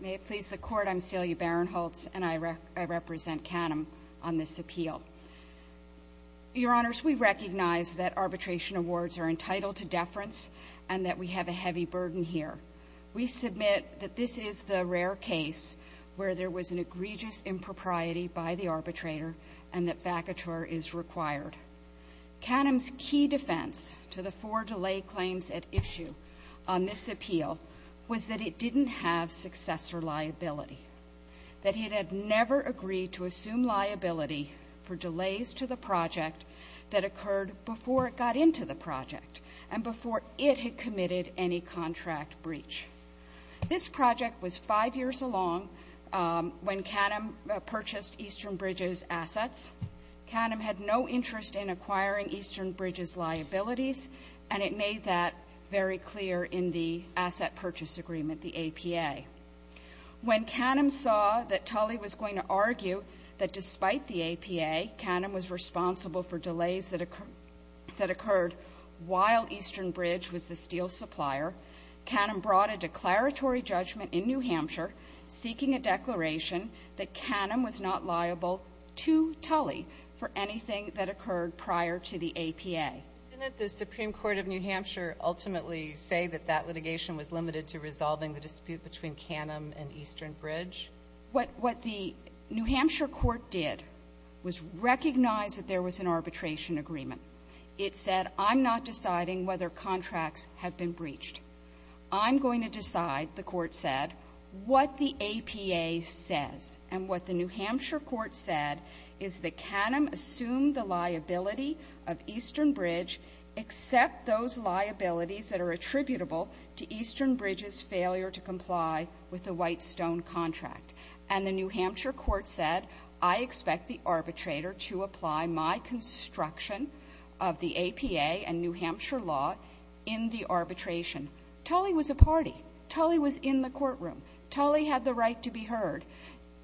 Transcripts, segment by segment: May it please the Court, I'm Celia Baron-Holtz, and I represent Canem on this appeal. Your Honors, we recognize that arbitration awards are entitled to deference and that we have a heavy burden here. We submit that this is the rare case where there was an egregious impropriety by the arbitrator and that vacatur is required. Canem's key defense to the four delay claims at issue on this appeal was that it didn't have successor liability, that it had never agreed to assume liability for delays to the project that occurred before it got into the project and before it had committed any contract breach. This project was five years along when Canem purchased Eastern Bridges' assets. Canem had no interest in acquiring Eastern Bridges' liabilities and it made that very purchase agreement, the APA. When Canem saw that Tully was going to argue that despite the APA, Canem was responsible for delays that occurred while Eastern Bridge was the steel supplier, Canem brought a declaratory judgment in New Hampshire seeking a declaration that Canem was not liable to Tully for anything that occurred prior to the APA. Didn't the Supreme Court of New Hampshire ultimately say that that litigation was limited to resolving the dispute between Canem and Eastern Bridge? What the New Hampshire court did was recognize that there was an arbitration agreement. It said, I'm not deciding whether contracts have been breached. I'm going to decide, the court said, what the APA says. And what the New Hampshire court said is that Canem assumed the liability of Eastern Bridge except those liabilities that are attributable to Eastern Bridges' failure to comply with the White Stone contract. And the New Hampshire court said, I expect the arbitrator to apply my construction of the APA and New Hampshire law in the arbitration. Tully was a party. Tully was in the courtroom. Tully had the right to be heard.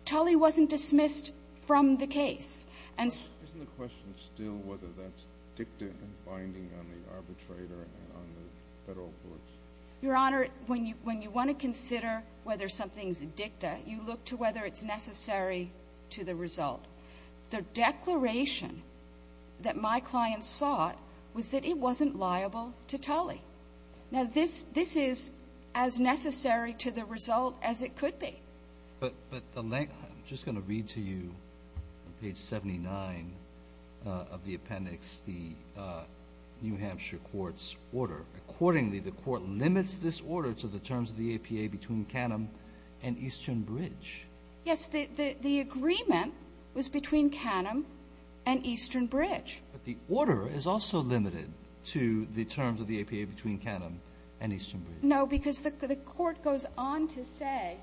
Tully wasn't dismissed from the case. And so- Isn't the question still whether that's dicta and binding on the arbitrator and on the federal courts? Your Honor, when you want to consider whether something's dicta, you look to whether it's necessary to the result. Now, this is as necessary to the result as it could be. But the length of it, I'm just going to read to you on page 79 of the appendix the New Hampshire court's order. Accordingly, the court limits this order to the terms of the APA between Canem and Eastern Bridge. Yes, the agreement was between Canem and Eastern Bridge. But the order is also limited to the terms of the APA between Canem and Eastern Bridge. No, because the court goes on to say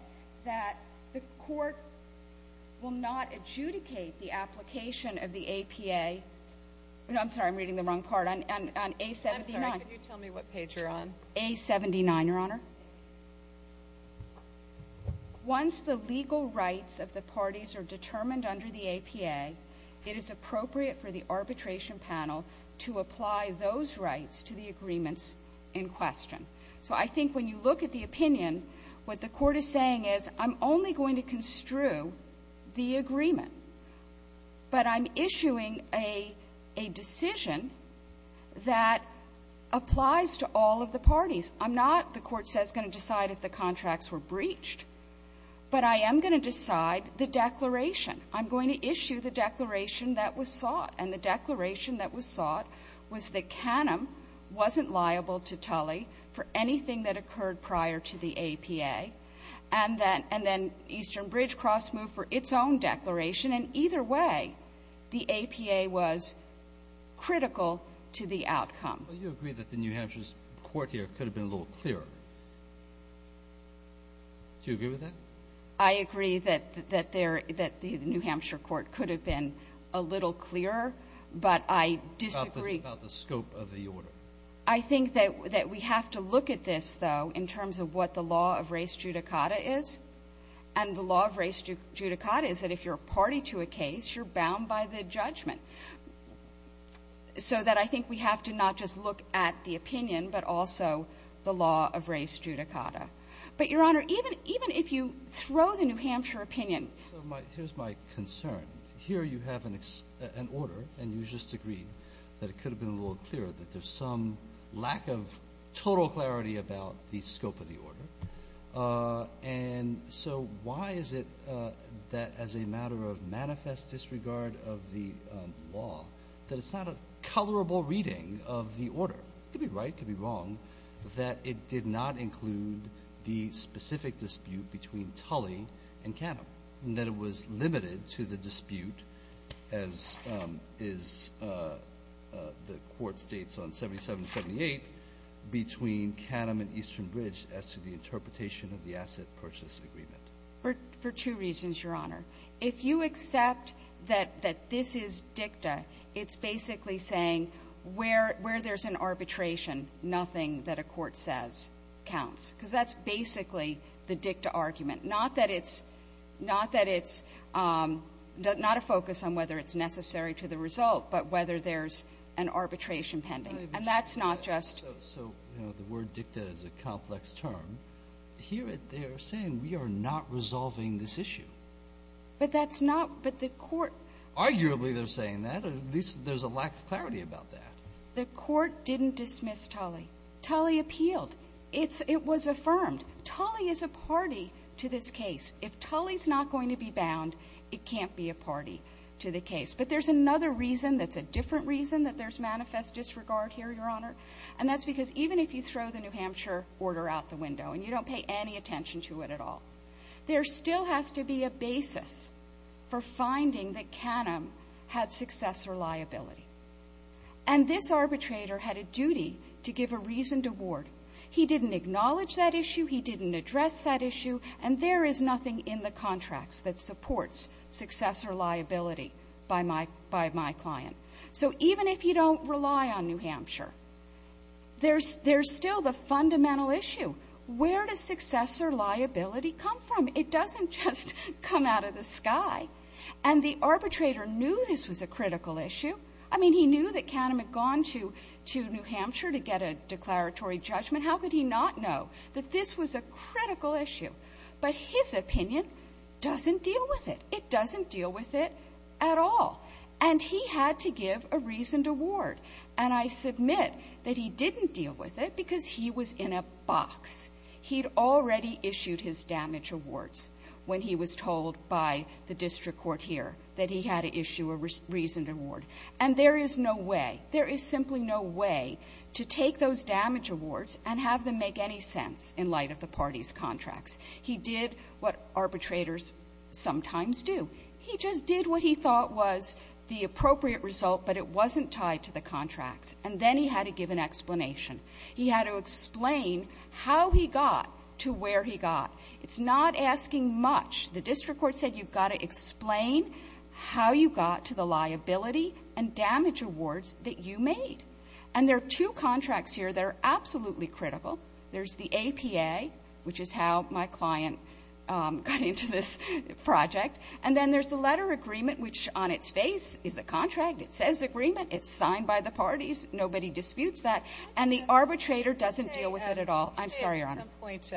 that the court will not adjudicate the application of the APA. I'm sorry, I'm reading the wrong part. On A-79- I'm sorry, can you tell me what page you're on? A-79, Your Honor. Once the legal rights of the parties are determined under the APA, it is appropriate for the arbitration panel to apply those rights to the agreements in question. So I think when you look at the opinion, what the court is saying is, I'm only going to construe the agreement. But I'm issuing a decision that applies to all of the parties. I'm not, the court says, going to decide if the contracts were breached. But I am going to decide the declaration. I'm going to issue the declaration that was sought. And the declaration that was sought was that Canem wasn't liable to Tully for anything that occurred prior to the APA. And then Eastern Bridge cross-moved for its own declaration. And either way, the APA was critical to the outcome. Well, you agree that the New Hampshire's court here could have been a little clearer. Do you agree with that? I agree that the New Hampshire court could have been a little clearer. But I disagree. About the scope of the order? I think that we have to look at this, though, in terms of what the law of race judicata is. And the law of race judicata is that if you're a party to a case, you're bound by the judgment. So that I think we have to not just look at the opinion, but also the law of race judicata. But Your Honor, even if you throw the New Hampshire opinion. Here's my concern. Here you have an order, and you just agreed that it could have been a little clearer, that there's some lack of total clarity about the scope of the order. And so why is it that as a matter of manifest disregard of the law, that it's not a colorable reading of the order? You could be right, you could be wrong, that it did not include the specific dispute between Tully and Canham. That it was limited to the dispute, as the court states on 7778, between Canham and Eastern Bridge as to the interpretation of the asset purchase agreement. For two reasons, Your Honor. If you accept that this is dicta, it's basically saying where there's an arbitration nothing that a court says counts. Because that's basically the dicta argument. Not that it's, not that it's, not a focus on whether it's necessary to the result, but whether there's an arbitration pending. And that's not just. So, you know, the word dicta is a complex term. Here they're saying we are not resolving this issue. But that's not, but the court. Arguably they're saying that, at least there's a lack of clarity about that. The court didn't dismiss Tully. Tully appealed. It's, it was affirmed. Tully is a party to this case. If Tully's not going to be bound, it can't be a party to the case. But there's another reason that's a different reason that there's manifest disregard here, Your Honor. And that's because even if you throw the New Hampshire order out the window and you don't pay any attention to it at all, there still has to be a basis for finding that Canham had successor liability. And this arbitrator had a duty to give a reasoned award. He didn't acknowledge that issue. He didn't address that issue. And there is nothing in the contracts that supports successor liability by my, by my client. So even if you don't rely on New Hampshire, there's, there's still the fundamental issue. Where does successor liability come from? It doesn't just come out of the sky. And the arbitrator knew this was a critical issue. I mean, he knew that Canham had gone to, to New Hampshire to get a declaratory judgment. How could he not know that this was a critical issue? But his opinion doesn't deal with it. It doesn't deal with it at all. And he had to give a reasoned award. And I submit that he didn't deal with it because he was in a box. He'd already issued his damage awards when he was told by the district court here that he had to issue a reasoned award. And there is no way, there is simply no way to take those damage awards and have them make any sense in light of the party's contracts. He did what arbitrators sometimes do. He just did what he thought was the appropriate result, but it wasn't tied to the contracts. And then he had to give an explanation. He had to explain how he got to where he got. It's not asking much. The district court said you've got to explain how you got to the liability and damage awards that you made. And there are two contracts here that are absolutely critical. There's the APA, which is how my client got into this project. And then there's the letter agreement, which on its face is a contract. It says agreement. It's signed by the parties. Nobody disputes that. I'm sorry, Your Honor. At some point,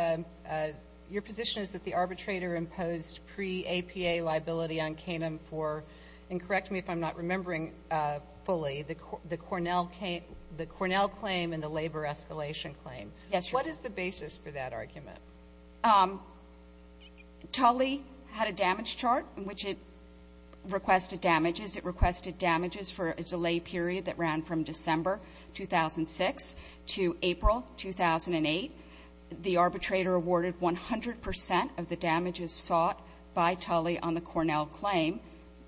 your position is that the arbitrator imposed pre-APA liability on Canem for, and correct me if I'm not remembering fully, the Cornell claim and the labor escalation claim. Yes, Your Honor. What is the basis for that argument? Tully had a damage chart in which it requested damages. It requested damages for a delay period that ran from December 2006 to April 2008. The arbitrator awarded 100% of the damages sought by Tully on the Cornell claim.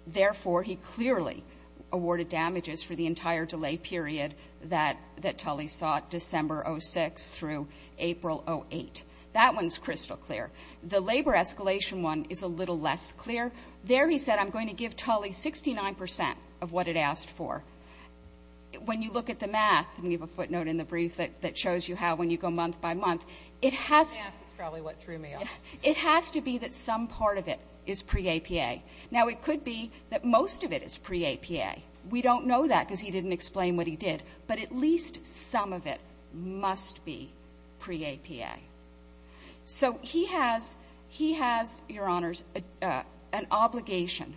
Therefore, he clearly awarded damages for the entire delay period that Tully sought, December 06 through April 08. That one's crystal clear. The labor escalation one is a little less clear. There he said, I'm going to give Tully 69% of what it asked for. When you look at the math, and we have a footnote in the brief that shows you how when you go month by month, it has to be that some part of it is pre-APA. Now, it could be that most of it is pre-APA. We don't know that because he didn't explain what he did. But at least some of it must be pre-APA. So he has, Your Honors, an obligation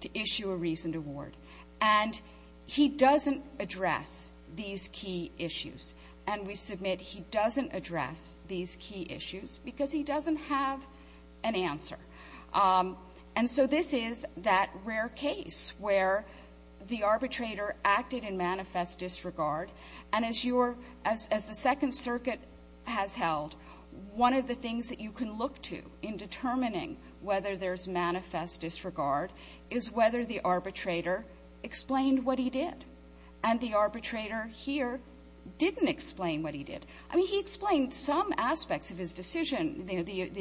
to issue a reasoned award. And he doesn't address these key issues. And we submit he doesn't address these key issues because he doesn't have an answer. And so this is that rare case where the arbitrator acted in manifest disregard. And as the Second Circuit has held, one of the things that you can look to in determining whether there's manifest disregard is whether the arbitrator explained what he did. And the arbitrator here didn't explain what he did. I mean, he explained some aspects of his decision.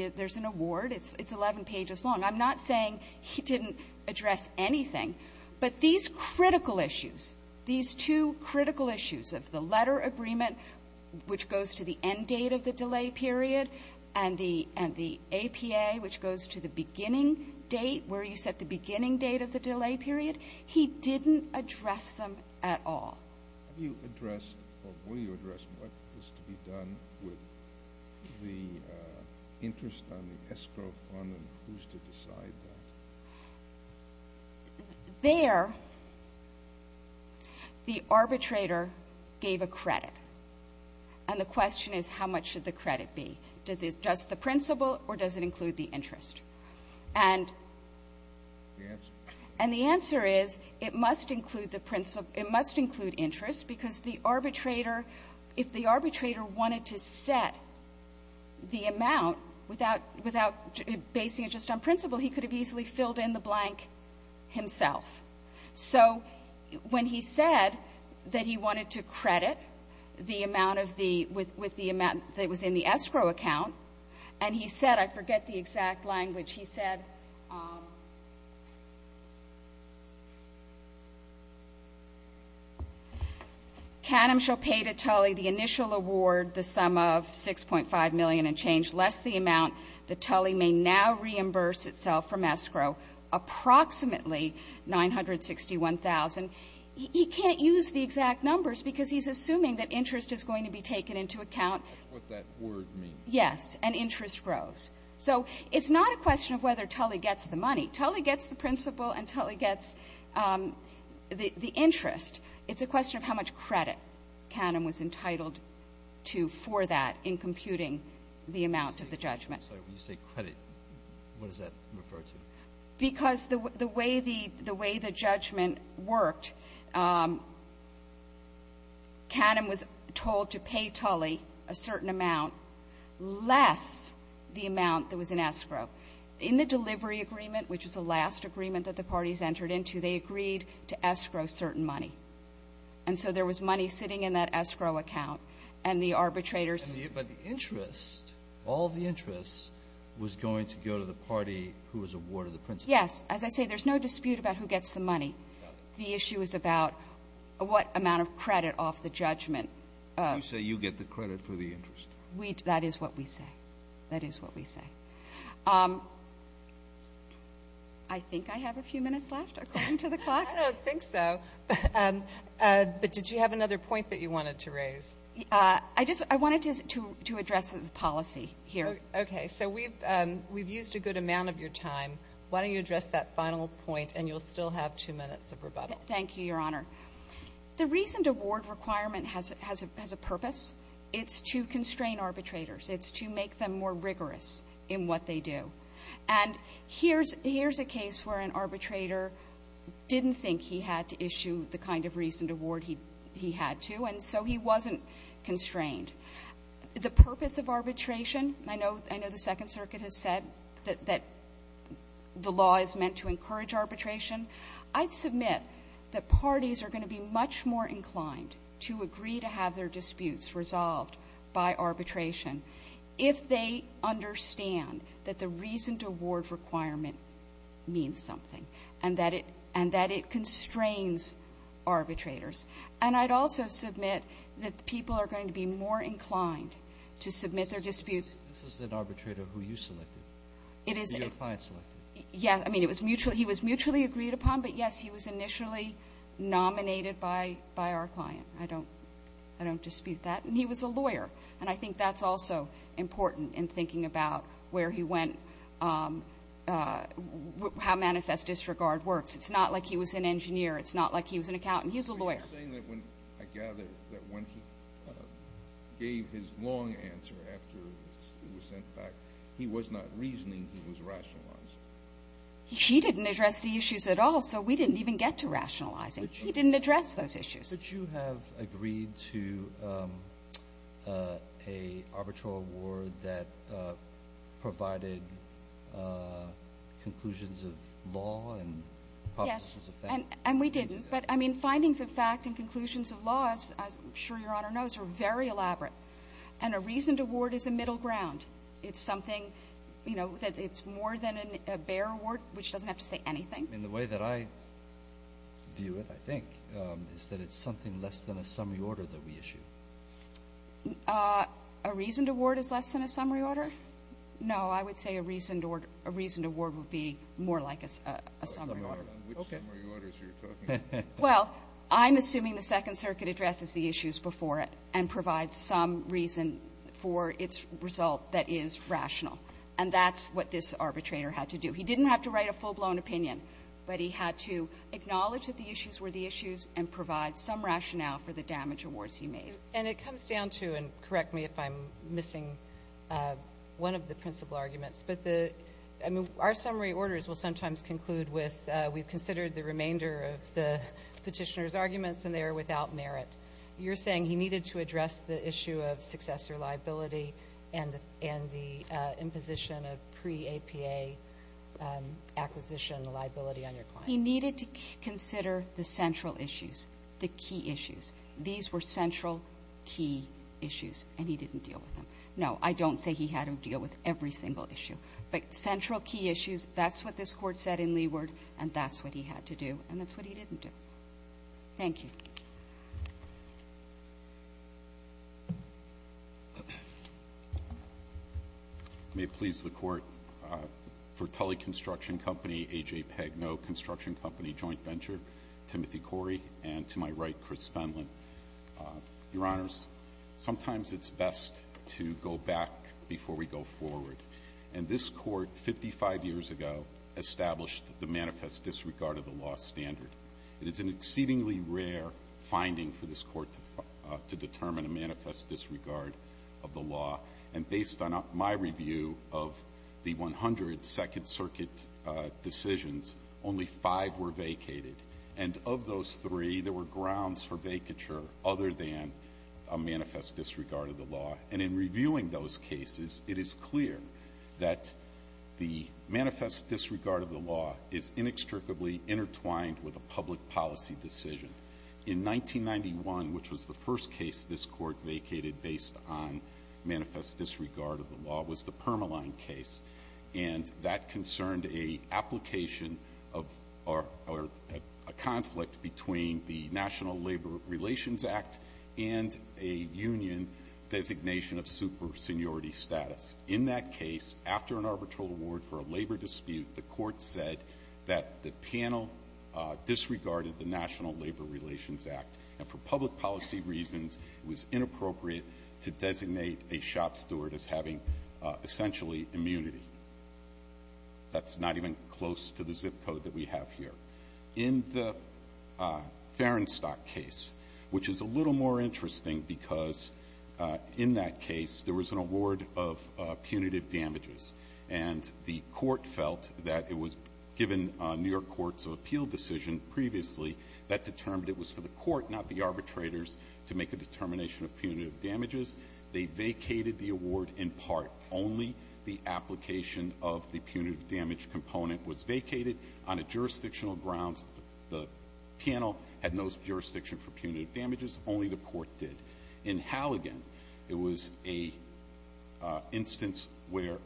There's an award, it's 11 pages long. I'm not saying he didn't address anything. But these critical issues, these two critical issues of the letter agreement, which goes to the end date of the delay period, and the APA, which goes to the beginning date, where you set the beginning date of the delay period. He didn't address them at all. Have you addressed, or will you address what is to be done with the interest on the escrow fund and who's to decide that? There, the arbitrator gave a credit. And the question is, how much should the credit be? Does it address the principle or does it include the interest? And. The answer. And the answer is, it must include the principle. It must include interest, because the arbitrator, if the arbitrator wanted to set the amount without basing it just on principle, he could have easily filled in the blank himself. So when he said that he wanted to credit the amount of the, with the amount that was in the escrow account, and he said, I forget the exact language, he said, Canem shall pay to Tully the initial award, the sum of $6.5 million and change, less the amount that Tully may now reimburse itself from escrow, approximately $961,000. He can't use the exact numbers because he's assuming that interest is going to be taken into account. That's what that word means. Yes, and interest grows. So it's not a question of whether Tully gets the money. Tully gets the principle and Tully gets the interest. It's a question of how much credit Canem was entitled to for that in computing the amount of the judgment. I'm sorry, when you say credit, what does that refer to? Because the way the judgment worked, Canem was told to pay Tully a certain amount less the amount that was in escrow. In the delivery agreement, which is the last agreement that the parties entered into, they agreed to escrow certain money. And so there was money sitting in that escrow account and the arbitrators. But the interest, all the interest was going to go to the party who was awarded the principle. Yes. As I say, there's no dispute about who gets the money. The issue is about what amount of credit off the judgment. You say you get the credit for the interest. We, that is what we say. That is what we say. I think I have a few minutes left according to the clock. I don't think so. But did you have another point that you wanted to raise? I just, I wanted to address the policy here. Okay, so we've used a good amount of your time. Why don't you address that final point and you'll still have two minutes of rebuttal. Thank you, Your Honor. The reasoned award requirement has a purpose. It's to constrain arbitrators. It's to make them more rigorous in what they do. And here's a case where an arbitrator didn't think he had to issue the kind of reasoned award he had to, and so he wasn't constrained. The purpose of arbitration, I know the Second Circuit has said that the law is meant to encourage arbitration. I'd submit that parties are going to be much more inclined to agree to have their disputes resolved by arbitration if they understand that the reasoned award requirement means something and that it constrains arbitrators. And I'd also submit that people are going to be more inclined to submit their disputes. This is an arbitrator who you selected, who your client selected. Yes, I mean, he was mutually agreed upon, but yes, he was initially nominated by our client. I don't dispute that. And he was a lawyer, and I think that's also important in thinking about where he went, how manifest disregard works. It's not like he was an engineer. It's not like he was an accountant. He was a lawyer. You're saying that when, I gather, that when he gave his long answer after it was sent back, he was not reasoning, he was rationalizing. He didn't address the issues at all, so we didn't even get to rationalizing. He didn't address those issues. But you have agreed to an arbitral award that provided conclusions of law and processes of fact. And we didn't. But, I mean, findings of fact and conclusions of laws, as I'm sure Your Honor knows, are very elaborate. And a reasoned award is a middle ground. It's something, you know, that it's more than a bare award, which doesn't have to say anything. In the way that I view it, I think, is that it's something less than a summary order that we issue. A reasoned award is less than a summary order? No, I would say a reasoned award would be more like a summary order. Which summary orders are you talking about? Well, I'm assuming the Second Circuit addresses the issues before it and provides some reason for its result that is rational. And that's what this arbitrator had to do. He didn't have to write a full-blown opinion, but he had to acknowledge that the issues were the issues and provide some rationale for the damage awards he made. And it comes down to, and correct me if I'm missing one of the principal arguments, but the, I mean, our summary orders will sometimes conclude with, we've considered the remainder of the petitioner's arguments and they are without merit. You're saying he needed to address the issue of successor liability and the imposition of pre-APA acquisition liability on your client. He needed to consider the central issues, the key issues. These were central, key issues, and he didn't deal with them. No, I don't say he had to deal with every single issue. But central, key issues, that's what this Court said in Leeward, and that's what he had to do, and that's what he didn't do. Thank you. May it please the Court, for Tully Construction Company, AJ Pegg, No Construction Company Joint Venture, Timothy Corey, and to my right, Chris Fenlon. Your Honors, sometimes it's best to go back before we go forward. And this court, 55 years ago, established the manifest disregard of the law standard. It is an exceedingly rare finding for this court to determine a manifest disregard of the law. And based on my review of the 100 Second Circuit decisions, only five were vacated. And of those three, there were grounds for vacature other than a manifest disregard of the law. And in reviewing those cases, it is clear that the manifest disregard of the law is inextricably intertwined with a public policy decision. In 1991, which was the first case this court vacated based on manifest disregard of the law, was the Permaline case. And that concerned a application of, or a conflict between the National Labor Relations Act and a union designation of super seniority status. In that case, after an arbitral award for a labor dispute, the court said that the panel disregarded the National Labor Relations Act. And for public policy reasons, it was inappropriate to designate a shop steward as having essentially immunity. That's not even close to the zip code that we have here. In the Ferenstock case, which is a little more interesting, because in that case, there was an award of punitive damages. And the court felt that it was, given New York Court's appeal decision previously, that determined it was for the court, not the arbitrators, to make a determination of punitive damages. They vacated the award in part. Only the application of the punitive damage component was vacated on a jurisdictional grounds. The panel had no jurisdiction for punitive damages, only the court did. In Halligan, it was a instance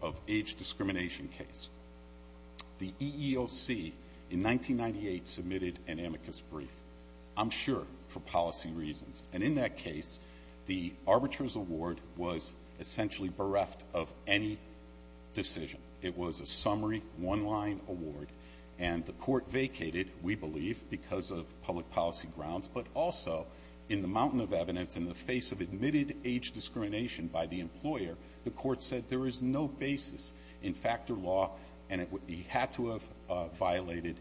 of age discrimination case. The EEOC in 1998 submitted an amicus brief, I'm sure for policy reasons. And in that case, the arbitrator's award was essentially bereft of any decision. It was a summary, one-line award. And the court vacated, we believe, because of public policy grounds. But also, in the mountain of evidence, in the face of admitted age discrimination by the employer, the court said there is no basis in factor law, and it had to have violated,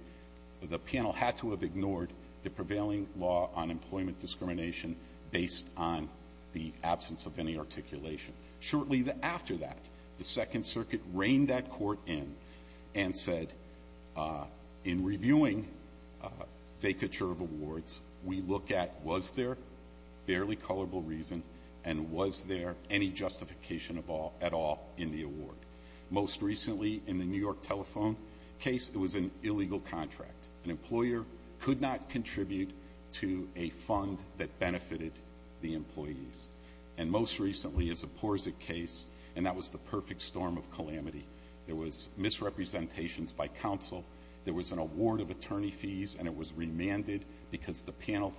the panel had to have ignored the prevailing law on employment discrimination based on the absence of any articulation. Shortly after that, the Second Circuit reined that court in and said, in reviewing vacature of awards, we look at was there barely colorable reason, and was there any justification at all in the award? Most recently, in the New York Telephone case, it was an illegal contract. An employer could not contribute to a fund that benefited the employees. And most recently, as a Porzig case, and that was the perfect storm of calamity. There was misrepresentations by counsel. There was an award of attorney fees, and it was remanded because the panel,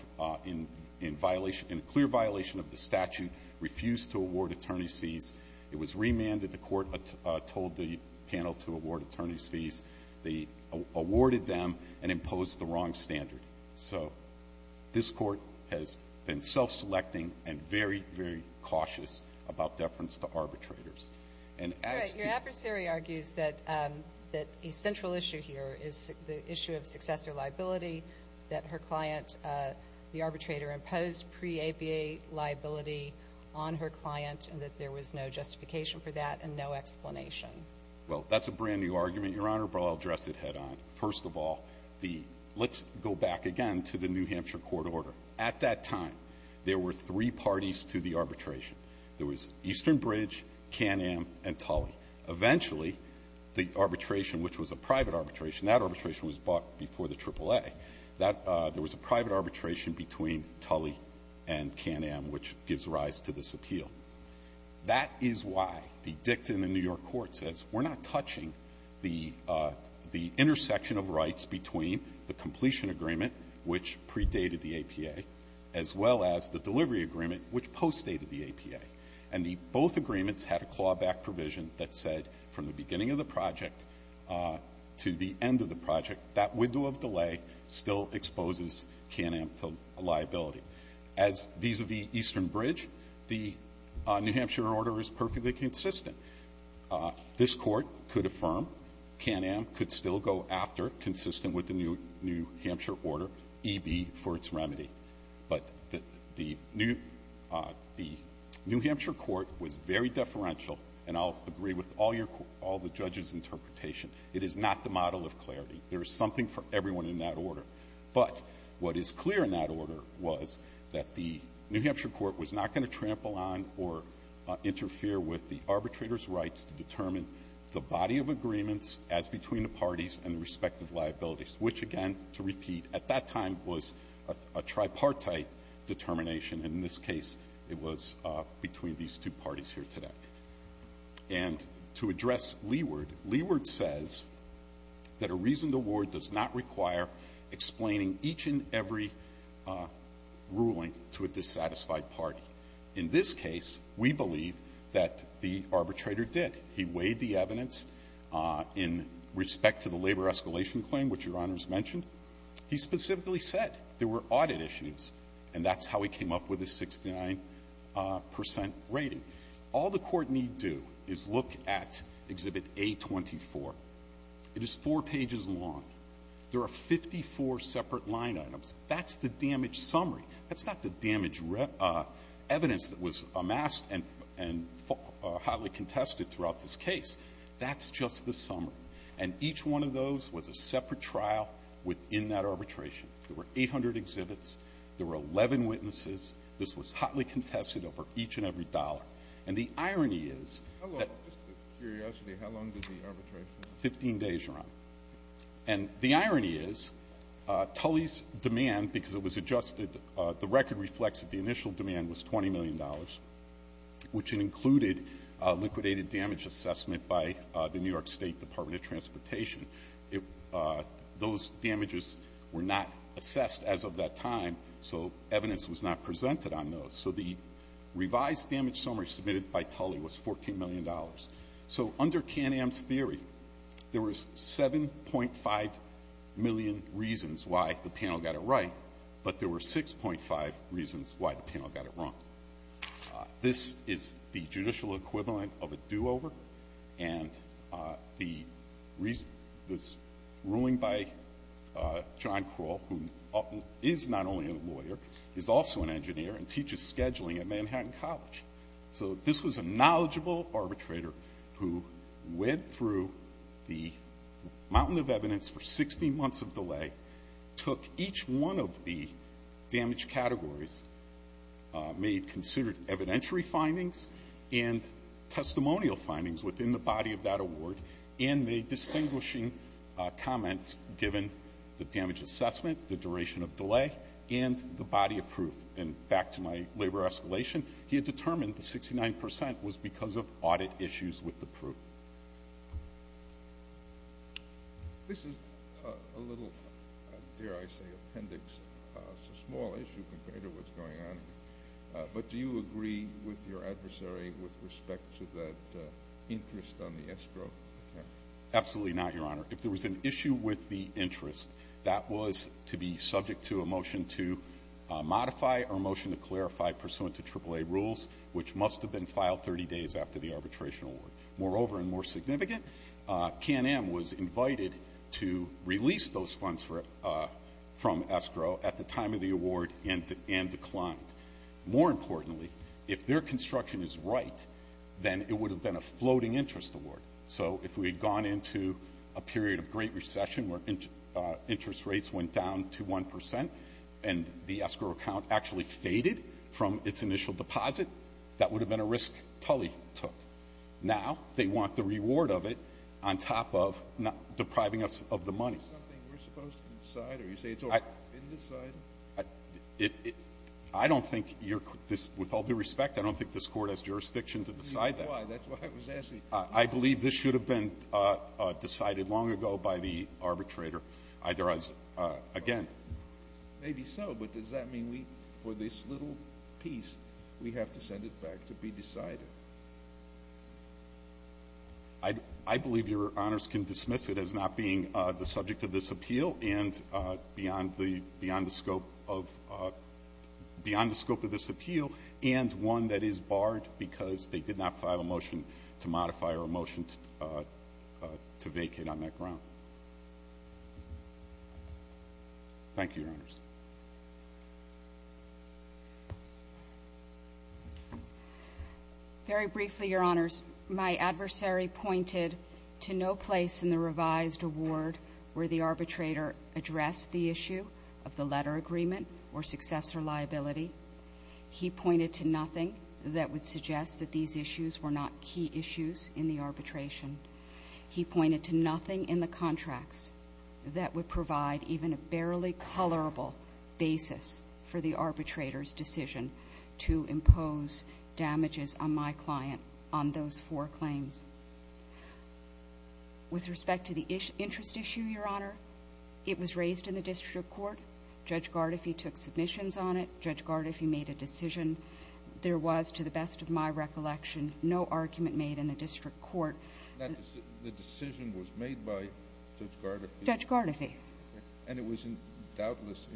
in a clear violation of the statute, refused to award attorney's fees. It was remanded, the court told the panel to award attorney's fees. They awarded them and imposed the wrong standard. So this court has been self-selecting and very, very cautious about deference to arbitrators. And as to- Your adversary argues that a central issue here is the issue of successor liability, that her client, the arbitrator, imposed pre-ABA liability on her client and that there was no justification for that and no explanation. Well, that's a brand new argument, Your Honor, but I'll address it head on. First of all, let's go back again to the New Hampshire court order. At that time, there were three parties to the arbitration. There was Eastern Bridge, Can-Am, and Tully. Eventually, the arbitration, which was a private arbitration, that arbitration was bought before the AAA. There was a private arbitration between Tully and Can-Am, which gives rise to this appeal. That is why the dictum in the New York court says we're not touching the intersection of rights between the completion agreement, which predated the APA, as well as the delivery agreement, which postdated the APA. And the both agreements had a clawback provision that said from the beginning of the project to the end of the project, that window of delay still exposes Can-Am to liability. As vis-a-vis Eastern Bridge, the New Hampshire order is perfectly consistent. This Court could affirm Can-Am could still go after, consistent with the New Hampshire order, EB for its remedy. But the New Hampshire court was very deferential, and I'll agree with all your all the judges' interpretation. It is not the model of clarity. There is something for everyone in that order. But what is clear in that order was that the New Hampshire court was not going to trample on or interfere with the arbitrator's rights to determine the body of agreements as between the parties and the respective liabilities, which, again, to repeat, at that time was a tripartite determination. In this case, it was between these two parties here today. And to address Leeward, Leeward says that a reasoned award does not require explaining each and every ruling to a dissatisfied party. In this case, we believe that the arbitrator did. He weighed the evidence in respect to the labor escalation claim, which Your Honors mentioned. He specifically said there were audit issues, and that's how he came up with a 69 percent rating. All the Court need do is look at Exhibit A24. It is four pages long. There are 54 separate line items. That's the damage summary. That's not the damage evidence that was amassed and hotly contested throughout this case. That's just the summary. And each one of those was a separate trial within that arbitration. There were 800 exhibits. There were 11 witnesses. This was hotly contested over each and every dollar. And the irony is that the 15 days are up. And the irony is Tully's demand, because it was adjusted, the record reflects that the initial demand was $20 million, which included a liquidated damage assessment by the New York State Department of Transportation. Those damages were not assessed as of that time, so evidence was not presented on those. So the revised damage summary submitted by Tully was $14 million. So under Can-Am's theory, there was 7.5 million reasons why the panel got it right, but there were 6.5 reasons why the panel got it wrong. This is the judicial equivalent of a do-over. And the ruling by John Krull, who is not only a lawyer, is also an engineer and teaches scheduling at Manhattan College. So this was a knowledgeable arbitrator who went through the mountain of evidence for 16 months of delay, took each one of the damage categories, made considered evidentiary findings and testimonial findings within the body of that award, and made distinguishing comments given the damage assessment, the duration of delay, and the body of proof. And back to my labor escalation, he had determined the 69% was because of audit issues with the proof. This is a little, dare I say, appendix, so small issue compared to what's going on. But do you agree with your adversary with respect to that interest on the escrow? Absolutely not, Your Honor. If there was an issue with the interest, that was to be subject to a motion to modify or a motion to clarify pursuant to AAA rules, which must have been filed 30 days after the arbitration award. Moreover, and more significant, KNM was invited to release those funds from escrow at the time of the award and declined. More importantly, if their construction is right, then it would have been a floating interest award. So if we had gone into a period of great recession where interest rates went down from 1 to 1 percent and the escrow account actually faded from its initial deposit, that would have been a risk Tully took. Now they want the reward of it on top of depriving us of the money. Is this something we're supposed to decide or you say it's already been decided? I don't think you're quite this – with all due respect, I don't think this Court has jurisdiction to decide that. I believe this should have been decided long ago by the arbitrator, either as against Maybe so, but does that mean for this little piece, we have to send it back to be decided? I believe Your Honors can dismiss it as not being the subject of this appeal and beyond the scope of this appeal and one that is barred because they did not file a motion to modify or a motion to vacate on that ground. Thank you, Your Honors. Very briefly, Your Honors, my adversary pointed to no place in the revised award where the arbitrator addressed the issue of the letter agreement or successor liability. He pointed to nothing that would suggest that these issues were not key issues in the arbitration. He pointed to nothing in the contracts that would provide even a barely colorable basis for the arbitrator's decision to impose damages on my client on those four claims. With respect to the interest issue, Your Honor, it was raised in the District Court. Judge Gardefee took submissions on it. Judge Gardefee made a decision. There was, to the best of my recollection, no argument made in the District Court. The decision was made by Judge Gardefee? Judge Gardefee. And it was doubtless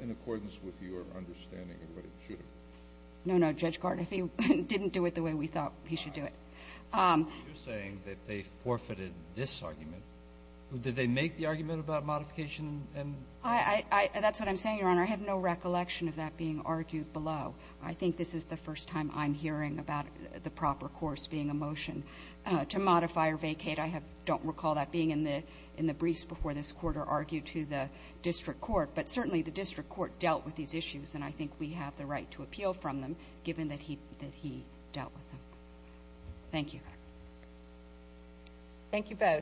in accordance with your understanding of what it should have been? No, no, Judge Gardefee didn't do it the way we thought he should do it. You're saying that they forfeited this argument. Did they make the argument about modification? That's what I'm saying, Your Honor. I have no recollection of that being argued below. I think this is the first time I'm hearing about the proper course being a motion to modify or vacate. I don't recall that being in the briefs before this court or argued to the District Court. But certainly the District Court dealt with these issues, and I think we have the right to appeal from them given that he dealt with them. Thank you. Thank you both.